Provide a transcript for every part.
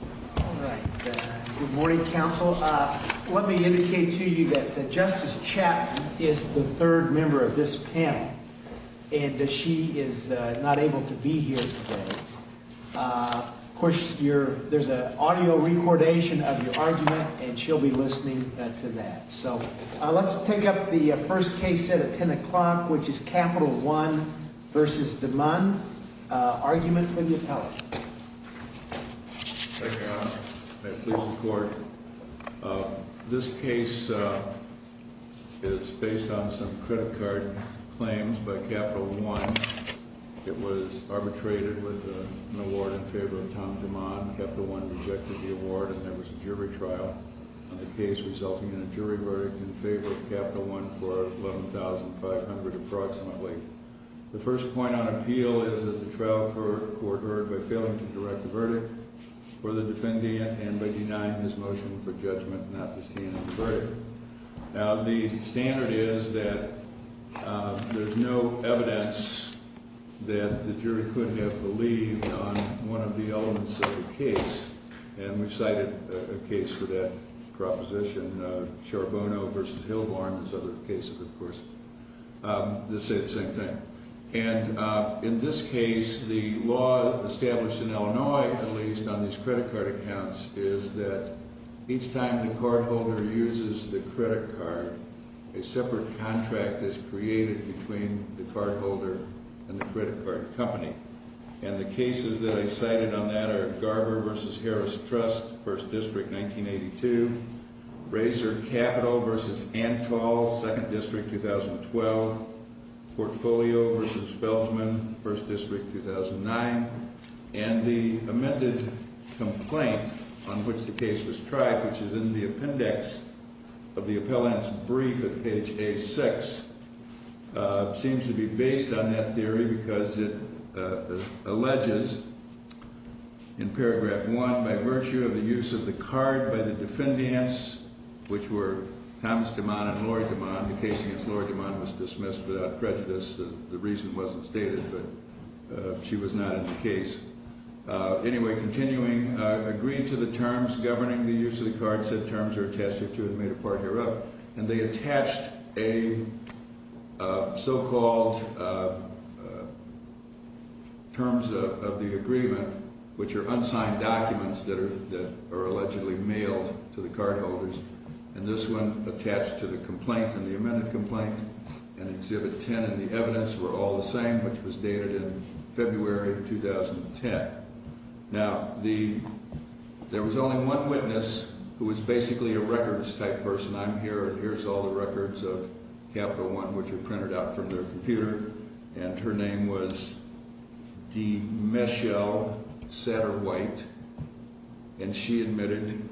Good morning, counsel. Let me indicate to you that Justice Chapman is the third member of this panel, and she is not able to be here today. Of course, there's an audio recordation of your argument, and she'll be listening to that. So let's take up the first case set at 10 o'clock, which is Capital One v. Demond. Argument from the appellate. Thank you, Your Honor. May I please report? This case is based on some credit card claims by Capital One. It was arbitrated with an award in favor of Tom Demond. Capital One rejected the award, and there was a jury trial on the case, resulting in a jury verdict in favor of Capital One for $11,500 approximately. The first point on appeal is that the trial court heard by failing to direct the verdict for the defendant and by denying his motion for judgment not to stand in the jury. Now, the standard is that there's no evidence that the jury could have believed on one of the elements of the case. And we've cited a case for that proposition, Charbonneau v. Hillborn. There's other cases, of course, that say the same thing. And in this case, the law established in Illinois, at least, on these credit card accounts is that each time the cardholder uses the credit card, a separate contract is created between the cardholder and the credit card company. And the cases that I cited on that are Garber v. Harris Trust, 1st District, 1982, Razor Capital v. Antal, 2nd District, 2012, Portfolio v. Feldman, 1st District, 2009. And the amended complaint on which the case was tried, which is in the appendix of the appellant's brief at page A6, seems to be based on that theory because it alleges in paragraph 1, by virtue of the use of the card by the defendants, which were Thomas DeMond and Laurie DeMond, the case against Laurie DeMond was dismissed without prejudice. The reason wasn't stated, but she was not in the case. Anyway, continuing, agreed to the terms governing the use of the card. It said terms are attached here too and made a part hereof. And they attached a so-called terms of the agreement, which are unsigned documents that are allegedly mailed to the cardholders. And this one attached to the complaint and the amended complaint in Exhibit 10. And the evidence were all the same, which was dated in February 2010. Now, there was only one witness who was basically a records type person. I'm here and here's all the records of Capital One, which were printed out from their computer. And her name was DeMichelle Satterwhite. And she admitted,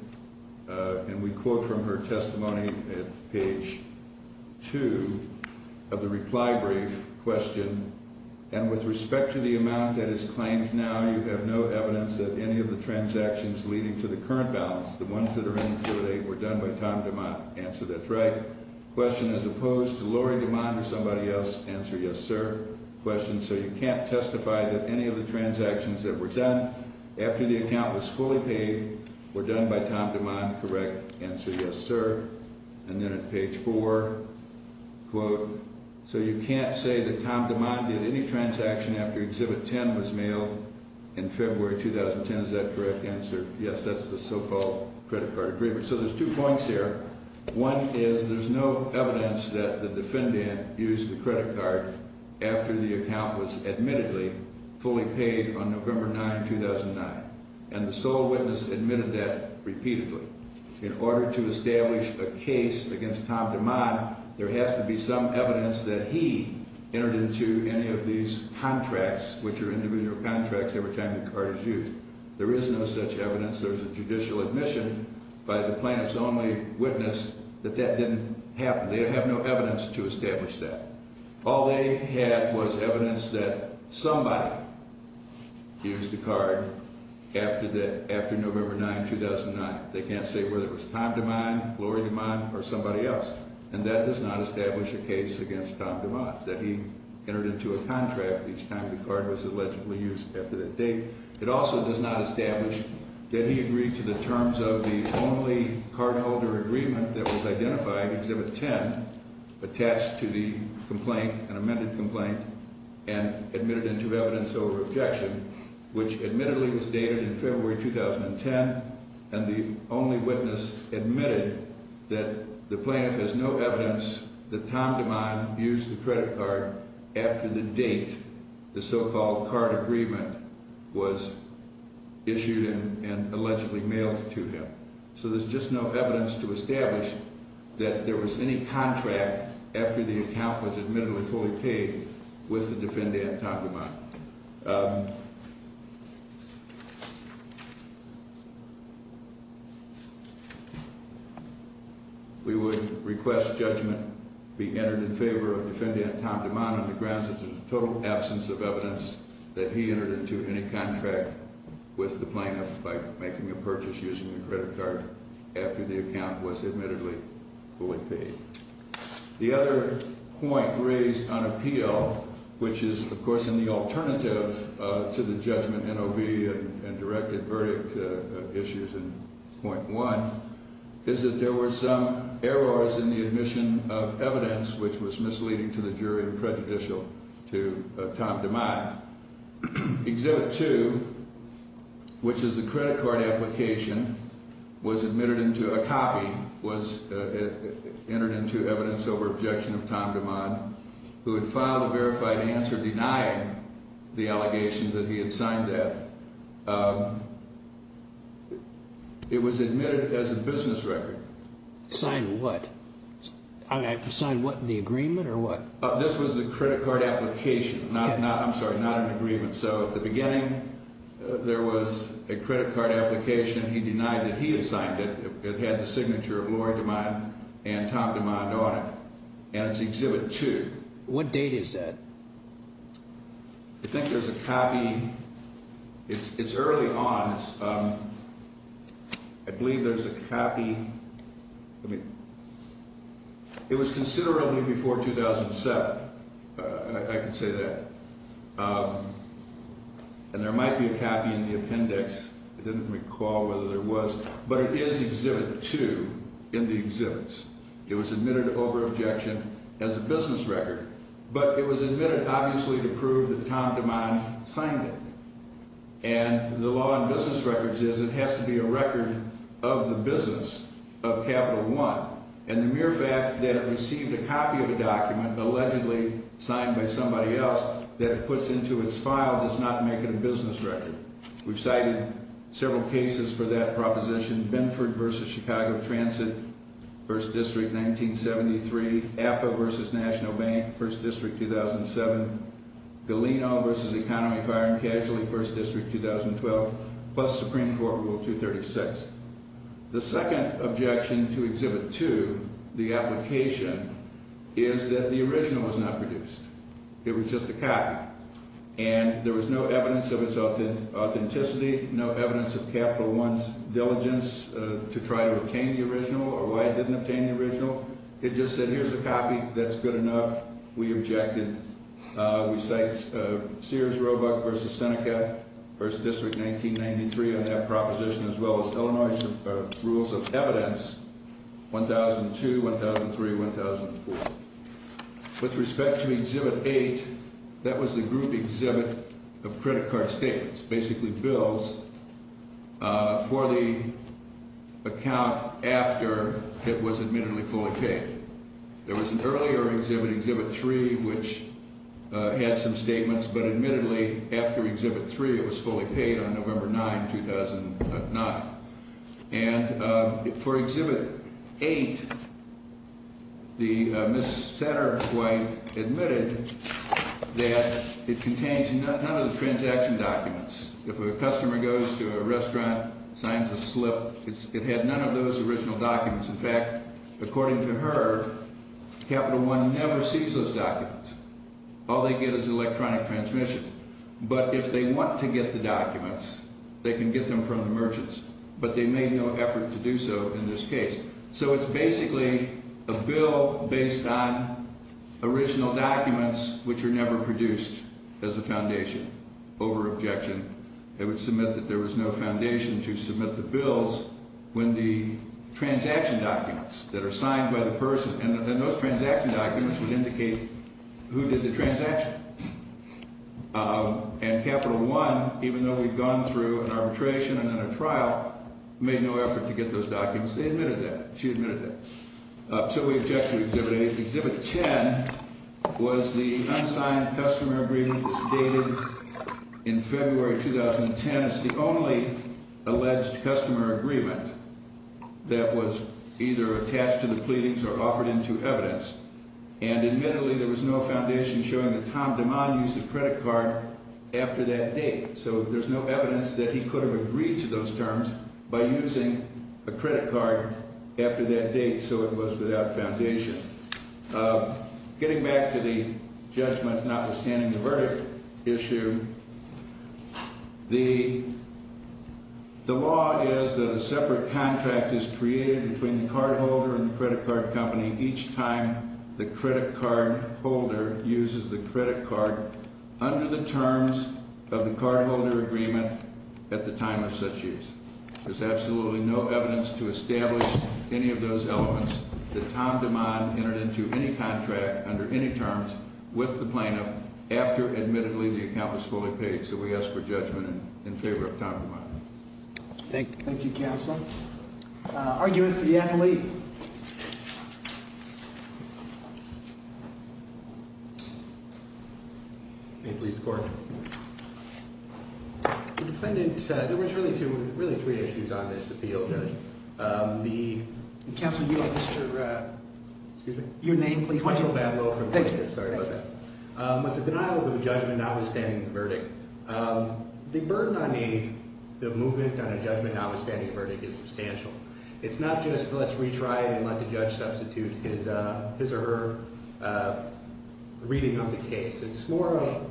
and we quote from her testimony at page 2 of the reply brief question, And with respect to the amount that is claimed now, you have no evidence that any of the transactions leading to the current balance, the ones that are in Exhibit 8, were done by Tom DeMond. Answer, that's right. Question, as opposed to Laurie DeMond or somebody else. Answer, yes, sir. Question, so you can't testify that any of the transactions that were done after the account was fully paid were done by Tom DeMond. Correct. Answer, yes, sir. And then at page 4, quote, so you can't say that Tom DeMond did any transaction after Exhibit 10 was mailed in February 2010. Is that a correct answer? Yes, that's the so-called credit card agreement. So there's two points here. One is there's no evidence that the defendant used the credit card after the account was admittedly fully paid on November 9, 2009. And the sole witness admitted that repeatedly. In order to establish a case against Tom DeMond, there has to be some evidence that he entered into any of these contracts, which are individual contracts, every time the card is used. There is no such evidence. There's a judicial admission by the plaintiff's only witness that that didn't happen. They have no evidence to establish that. All they had was evidence that somebody used the card after November 9, 2009. They can't say whether it was Tom DeMond, Lori DeMond, or somebody else. And that does not establish a case against Tom DeMond, that he entered into a contract each time the card was allegedly used after that date. It also does not establish that he agreed to the terms of the only cardholder agreement that was identified, Exhibit 10, attached to the complaint, an amended complaint, and admitted into evidence over objection, which admittedly was dated in February 2010. And the only witness admitted that the plaintiff has no evidence that Tom DeMond used the credit card after the date the so-called card agreement was issued and allegedly mailed to him. So there's just no evidence to establish that there was any contract after the account was admittedly fully paid with the defendant, Tom DeMond. We would request judgment be entered in favor of defendant Tom DeMond on the grounds that there's a total absence of evidence that he entered into any contract with the plaintiff by making a purchase using the credit card after the account was admittedly fully paid. The other point raised on appeal, which is, of course, in the alternative to the judgment NOB and directed verdict issues in Point 1, is that there were some errors in the admission of evidence which was misleading to the jury and prejudicial to Tom DeMond. Now, Exhibit 2, which is the credit card application, was admitted into a copy, was entered into evidence over objection of Tom DeMond, who had filed a verified answer denying the allegations that he had signed that. It was admitted as a business record. Signed what? Signed what, the agreement or what? This was the credit card application. I'm sorry, not an agreement. So at the beginning, there was a credit card application. He denied that he had signed it. It had the signature of Lori DeMond and Tom DeMond on it. And it's Exhibit 2. What date is that? I think there's a copy. It's early on. I believe there's a copy. It was considerably before 2007. I can say that. And there might be a copy in the appendix. I didn't recall whether there was. But it is Exhibit 2 in the exhibits. It was admitted over objection as a business record. But it was admitted, obviously, to prove that Tom DeMond signed it. And the law in business records is it has to be a record of the business of Capital One. And the mere fact that it received a copy of a document, allegedly signed by somebody else, that it puts into its file does not make it a business record. We've cited several cases for that proposition. Benford v. Chicago Transit, 1st District, 1973. APA v. National Bank, 1st District, 2007. Galeno v. Economy Fire and Casualty, 1st District, 2012. Plus Supreme Court Rule 236. The second objection to Exhibit 2, the application, is that the original was not produced. It was just a copy. And there was no evidence of its authenticity, no evidence of Capital One's diligence to try to obtain the original or why it didn't obtain the original. It just said, here's a copy. That's good enough. We objected. We cite Sears Roebuck v. Seneca, 1st District, 1993, on that proposition, as well as Illinois Rules of Evidence 1002, 1003, 1004. With respect to Exhibit 8, that was the group exhibit of credit card statements, basically bills for the account after it was admittedly fully paid. There was an earlier exhibit, Exhibit 3, which had some statements, but admittedly after Exhibit 3 it was fully paid on November 9, 2009. And for Exhibit 8, the Ms. Setter's wife admitted that it contains none of the transaction documents. If a customer goes to a restaurant, signs a slip, it had none of those original documents. In fact, according to her, Capital One never sees those documents. All they get is electronic transmission. But if they want to get the documents, they can get them from the merchants, but they made no effort to do so in this case. So it's basically a bill based on original documents which were never produced as a foundation. Over-objection. It would submit that there was no foundation to submit the bills when the transaction documents that are signed by the person and those transaction documents would indicate who did the transaction. And Capital One, even though we'd gone through an arbitration and then a trial, made no effort to get those documents. They admitted that. She admitted that. So we object to Exhibit 8. Exhibit 10 was the unsigned customer agreement that's dated in February 2010. It's the only alleged customer agreement that was either attached to the pleadings or offered into evidence. And admittedly, there was no foundation showing that Tom Demond used a credit card after that date. So there's no evidence that he could have agreed to those terms by using a credit card after that date. So it was without foundation. Getting back to the judgment notwithstanding the verdict issue, the law is that a separate contract is created between the cardholder and the credit card company each time the credit card holder uses the credit card under the terms of the cardholder agreement at the time of such use. There's absolutely no evidence to establish any of those elements that Tom Demond entered into any contract under any terms with the plaintiff after, admittedly, the account was fully paid. So we ask for judgment in favor of Tom Demond. Thank you, Counsel. Argument for the affidavit. May it please the Court. The defendant said there was really three issues on this appeal, Judge. Counsel, you are Mr. Your name, please. Michael Bablow. Thank you. I'm sorry about that. It's a denial of a judgment notwithstanding the verdict. The burden on the movement on a judgment notwithstanding the verdict is substantial. It's not just let's retry it and let the judge substitute his or her reading of the case. It's more of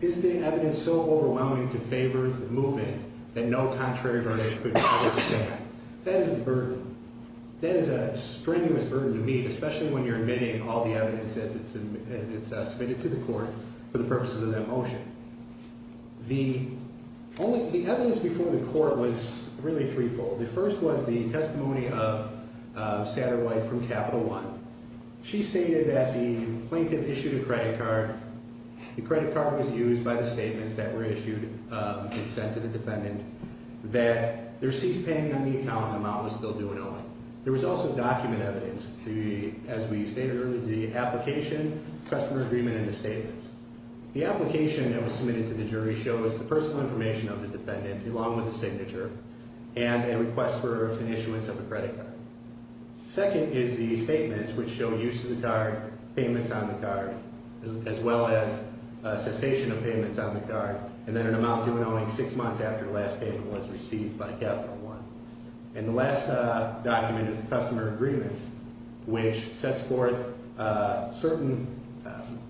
is the evidence so overwhelming to favor the movement that no contrary verdict could be favored? That is a burden. That is a strenuous burden to meet, especially when you're admitting all the evidence as it's submitted to the court for the purposes of that motion. The evidence before the court was really threefold. The first was the testimony of Satterwhite from Capital One. She stated that the plaintiff issued a credit card. The credit card was used by the statements that were issued and sent to the defendant that the receipt's pending on the account and the amount was still due and owing. There was also document evidence, as we stated earlier, the application, customer agreement, and the statements. The application that was submitted to the jury shows the personal information of the defendant along with a signature and a request for an issuance of a credit card. Second is the statements, which show use of the card, payments on the card, as well as cessation of payments on the card, and then an amount due and owing six months after the last payment was received by Capital One. And the last document is the customer agreement, which sets forth certain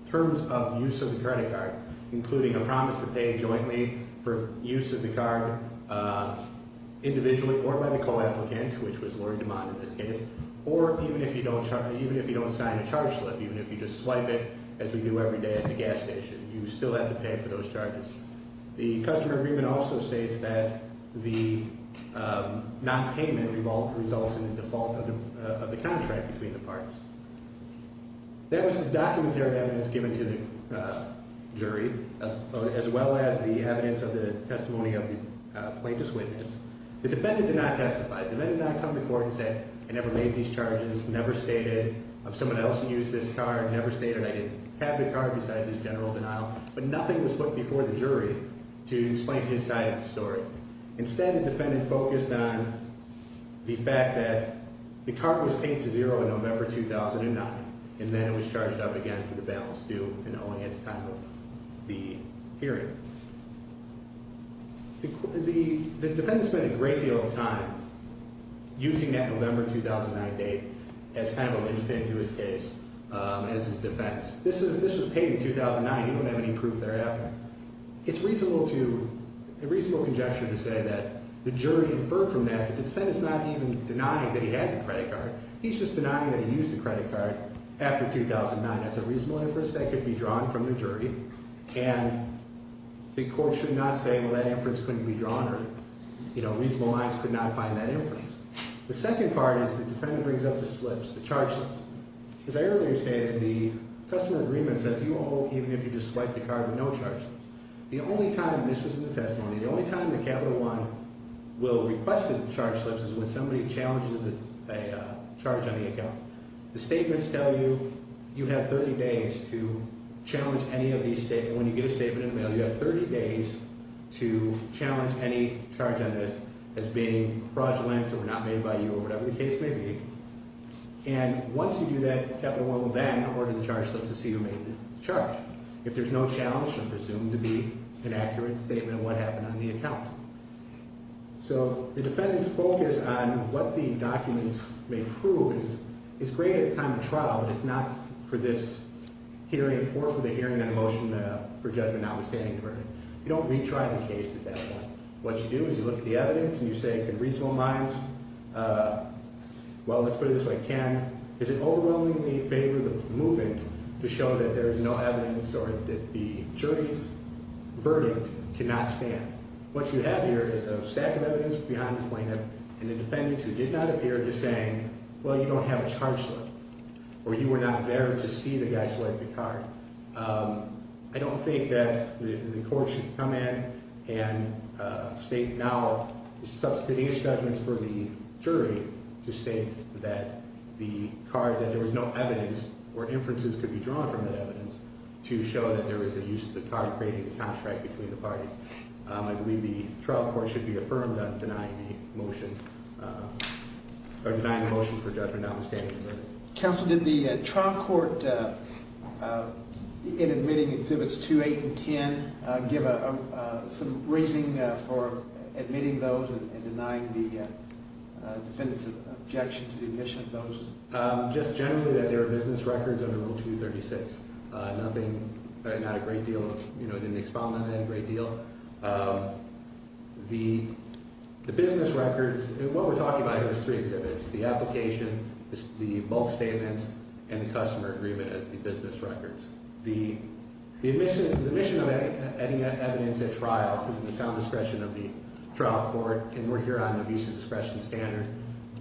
terms of use of the credit card, including a promise to pay jointly for use of the card individually or by the co-applicant, which was Lori DeMond in this case, or even if you don't sign a charge slip, even if you just swipe it as we do every day at the gas station, you still have to pay for those charges. The customer agreement also states that the nonpayment result in the default of the contract between the parties. That was the documentary evidence given to the jury, as well as the evidence of the testimony of the plaintiff's witness. The defendant did not testify. The defendant did not come to court and say, I never made these charges, never stated I'm someone else who used this card, never stated I didn't have the card besides his general denial. But nothing was put before the jury to explain his side of the story. Instead, the defendant focused on the fact that the card was paid to zero in November 2009, and then it was charged up again for the balance due and owing at the time of the hearing. The defendant spent a great deal of time using that November 2009 date as kind of a linchpin to his case as his defense. This was paid in 2009. He didn't have any proof there after. It's reasonable to, a reasonable conjecture to say that the jury inferred from that. The defendant's not even denying that he had the credit card. He's just denying that he used the credit card after 2009. That's a reasonable inference that could be drawn from the jury. And the court should not say, well, that inference couldn't be drawn or, you know, reasonable minds could not find that inference. The second part is the defendant brings up the slips, the charge slips. As I earlier stated, the customer agreement says you owe even if you just swipe the card with no charge. The only time this was in the testimony, the only time that Capital One will request a charge slip is when somebody challenges a charge on the account. The statements tell you you have 30 days to challenge any of these statements. When you get a statement in the mail, you have 30 days to challenge any charge on this as being fraudulent or not made by you or whatever the case may be. And once you do that, Capital One will then order the charge slip to see who made the charge. If there's no challenge, it's presumed to be an accurate statement of what happened on the account. So the defendant's focus on what the documents may prove is great at the time of trial, but it's not for this hearing or for the hearing on a motion for judgment notwithstanding the verdict. You don't retry the case at that point. What you do is you look at the evidence and you say, in reasonable minds, well, let's put it this way, Ken. Does it overwhelmingly favor the movement to show that there is no evidence or that the jury's verdict cannot stand? What you have here is a stack of evidence behind the plaintiff and the defendant who did not appear just saying, well, you don't have a charge slip or you were not there to see the guy swipe the card. I don't think that the court should come in and state now, substituting his judgment for the jury, to state that there was no evidence or inferences could be drawn from that evidence to show that there was a use of the card creating a contract between the parties. I believe the trial court should be affirmed on denying the motion for judgment notwithstanding the verdict. Counsel, did the trial court, in admitting exhibits 2, 8, and 10, give some reasoning for admitting those and denying the defendant's objection to the admission of those? Just generally that there are business records under Rule 236. Nothing, not a great deal of, you know, it didn't expound on that a great deal. The business records, and what we're talking about here is three exhibits, the application, the bulk statements, and the customer agreement as the business records. The admission of any evidence at trial is in the sound discretion of the trial court, and we're here on the abuse of discretion standard,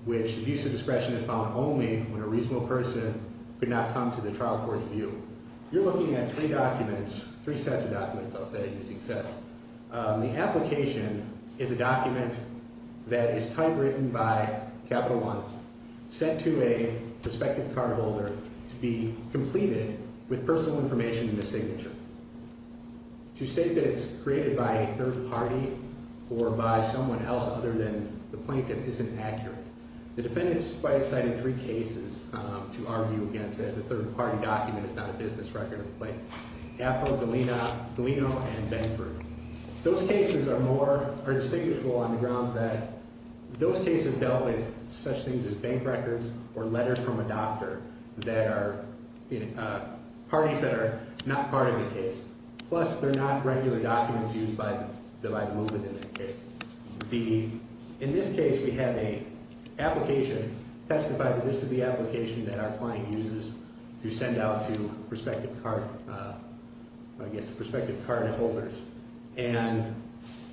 which abuse of discretion is found only when a reasonable person could not come to the trial court's view. You're looking at three documents, three sets of documents, I'll say, using sets. The application is a document that is typewritten by Capital One, sent to a prospective cardholder to be completed with personal information in the signature. To state that it's created by a third party or by someone else other than the plaintiff isn't accurate. The defendant's quite cited three cases to argue against that the third party document is not a business record, like Apple, Galeno, and Benford. Those cases are more, are distinguishable on the grounds that those cases dealt with such things as bank records or letters from a doctor that are parties that are not part of the case. Plus, they're not regular documents used by the movement in that case. In this case, we have an application testifying that this is the application that our client uses to send out to prospective cardholders. And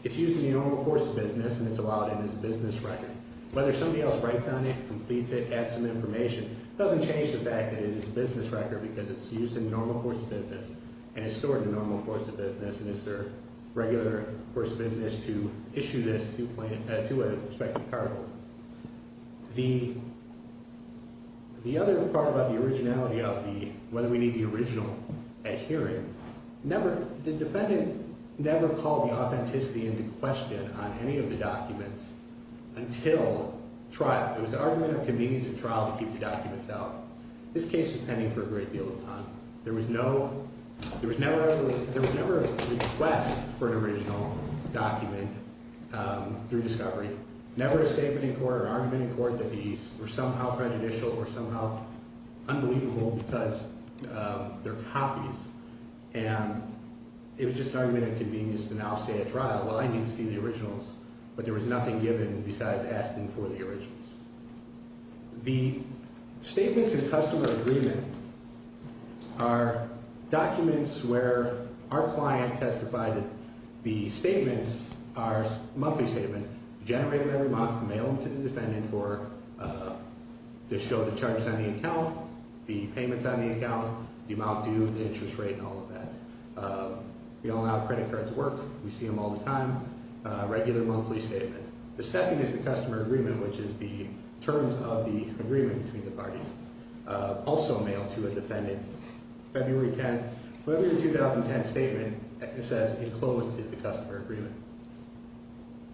it's used in the normal course of business, and it's allowed in as a business record. Whether somebody else writes on it, completes it, adds some information, doesn't change the fact that it is a business record because it's used in normal course of business. And it's stored in the normal course of business, and it's their regular course of business to issue this to a prospective cardholder. The other part about the originality of the, whether we need the original at hearing, the defendant never called the authenticity into question on any of the documents until trial. It was an argument of convenience at trial to keep the documents out. This case was pending for a great deal of time. There was never a request for an original document through discovery. Never a statement in court or argument in court that these were somehow prejudicial or somehow unbelievable because they're copies. And it was just an argument of convenience to now say at trial, well, I need to see the originals. But there was nothing given besides asking for the originals. The statements in customer agreement are documents where our client testified that the statements are monthly statements, generated every month, mailed to the defendant to show the charges on the account, the payments on the account, the amount due, the interest rate, and all of that. We all know how credit cards work. We see them all the time, regular monthly statements. The second is the customer agreement, which is the terms of the agreement between the parties. Also mailed to a defendant February 10th. Whatever the 2010 statement says enclosed is the customer agreement.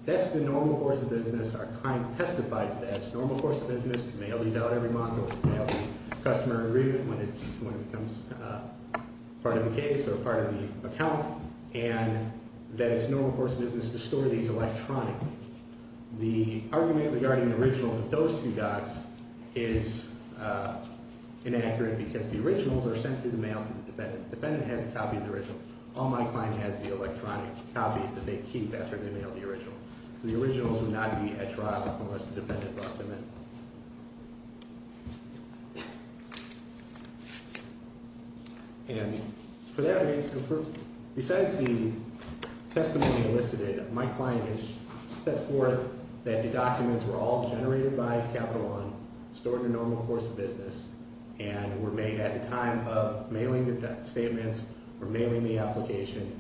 That's the normal course of business. Our client testified that it's normal course of business to mail these out every month or to mail the customer agreement when it becomes part of the case or part of the account. And that it's normal course of business to store these electronically. The argument regarding the originals of those two docs is inaccurate because the originals are sent through the mail to the defendant. The defendant has a copy of the original. All my client has is the electronic copies that they keep after they mail the original. So the originals would not be at trial unless the defendant brought them in. And for that reason, besides the testimony elicited, my client has set forth that the documents were all generated by Capital One, stored in a normal course of business, and were made at the time of mailing the statements or mailing the application.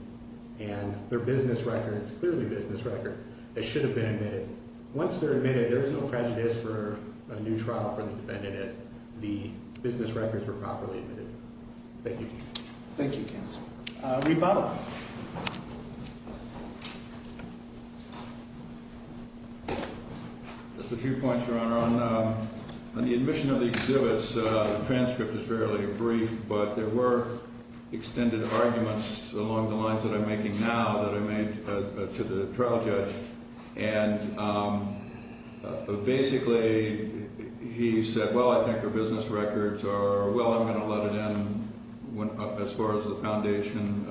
And they're business records, clearly business records. They should have been admitted. Once they're admitted, there's no prejudice for a new trial for the defendant if the business records were properly admitted. Thank you. Thank you, Counselor. Reid Butler. Just a few points, Your Honor. On the admission of the exhibits, the transcript is fairly brief, but there were extended arguments along the lines that I'm making now that I made to the trial judge. And basically, he said, well, I think the business records are, well, I'm going to let it in as far as the foundation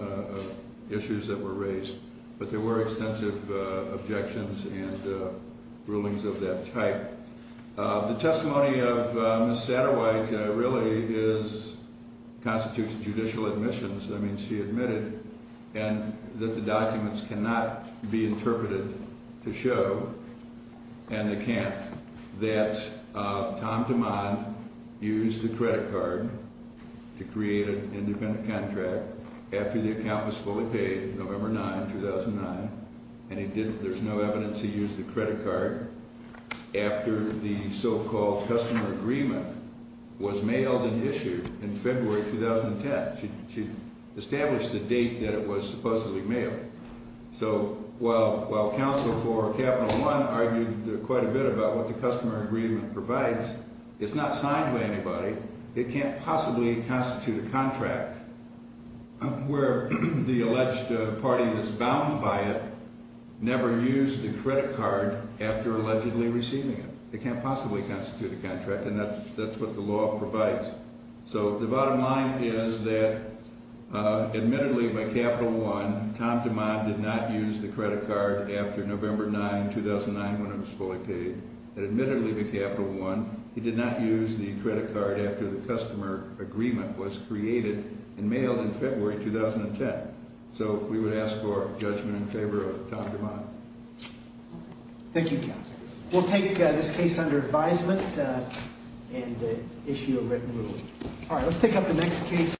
issues that were raised. But there were extensive objections and rulings of that type. The testimony of Ms. Satterwhite really constitutes judicial admissions. I mean, she admitted that the documents cannot be interpreted to show an account that Tom DeMond used the credit card to create an independent contract after the account was fully paid, November 9, 2009. And there's no evidence he used the credit card after the so-called customer agreement was mailed and issued in February 2010. She established the date that it was supposedly mailed. So while Counsel for Capital One argued quite a bit about what the customer agreement provides, it's not signed by anybody. It can't possibly constitute a contract where the alleged party that's bound by it never used the credit card after allegedly receiving it. It can't possibly constitute a contract, and that's what the law provides. So the bottom line is that admittedly, by Capital One, Tom DeMond did not use the credit card after November 9, 2009, when it was fully paid. And admittedly, by Capital One, he did not use the credit card after the customer agreement was created and mailed in February 2010. So we would ask for judgment in favor of Tom DeMond. Thank you, Counsel. We'll take this case under advisement and issue a written ruling. All right, let's take up the next case.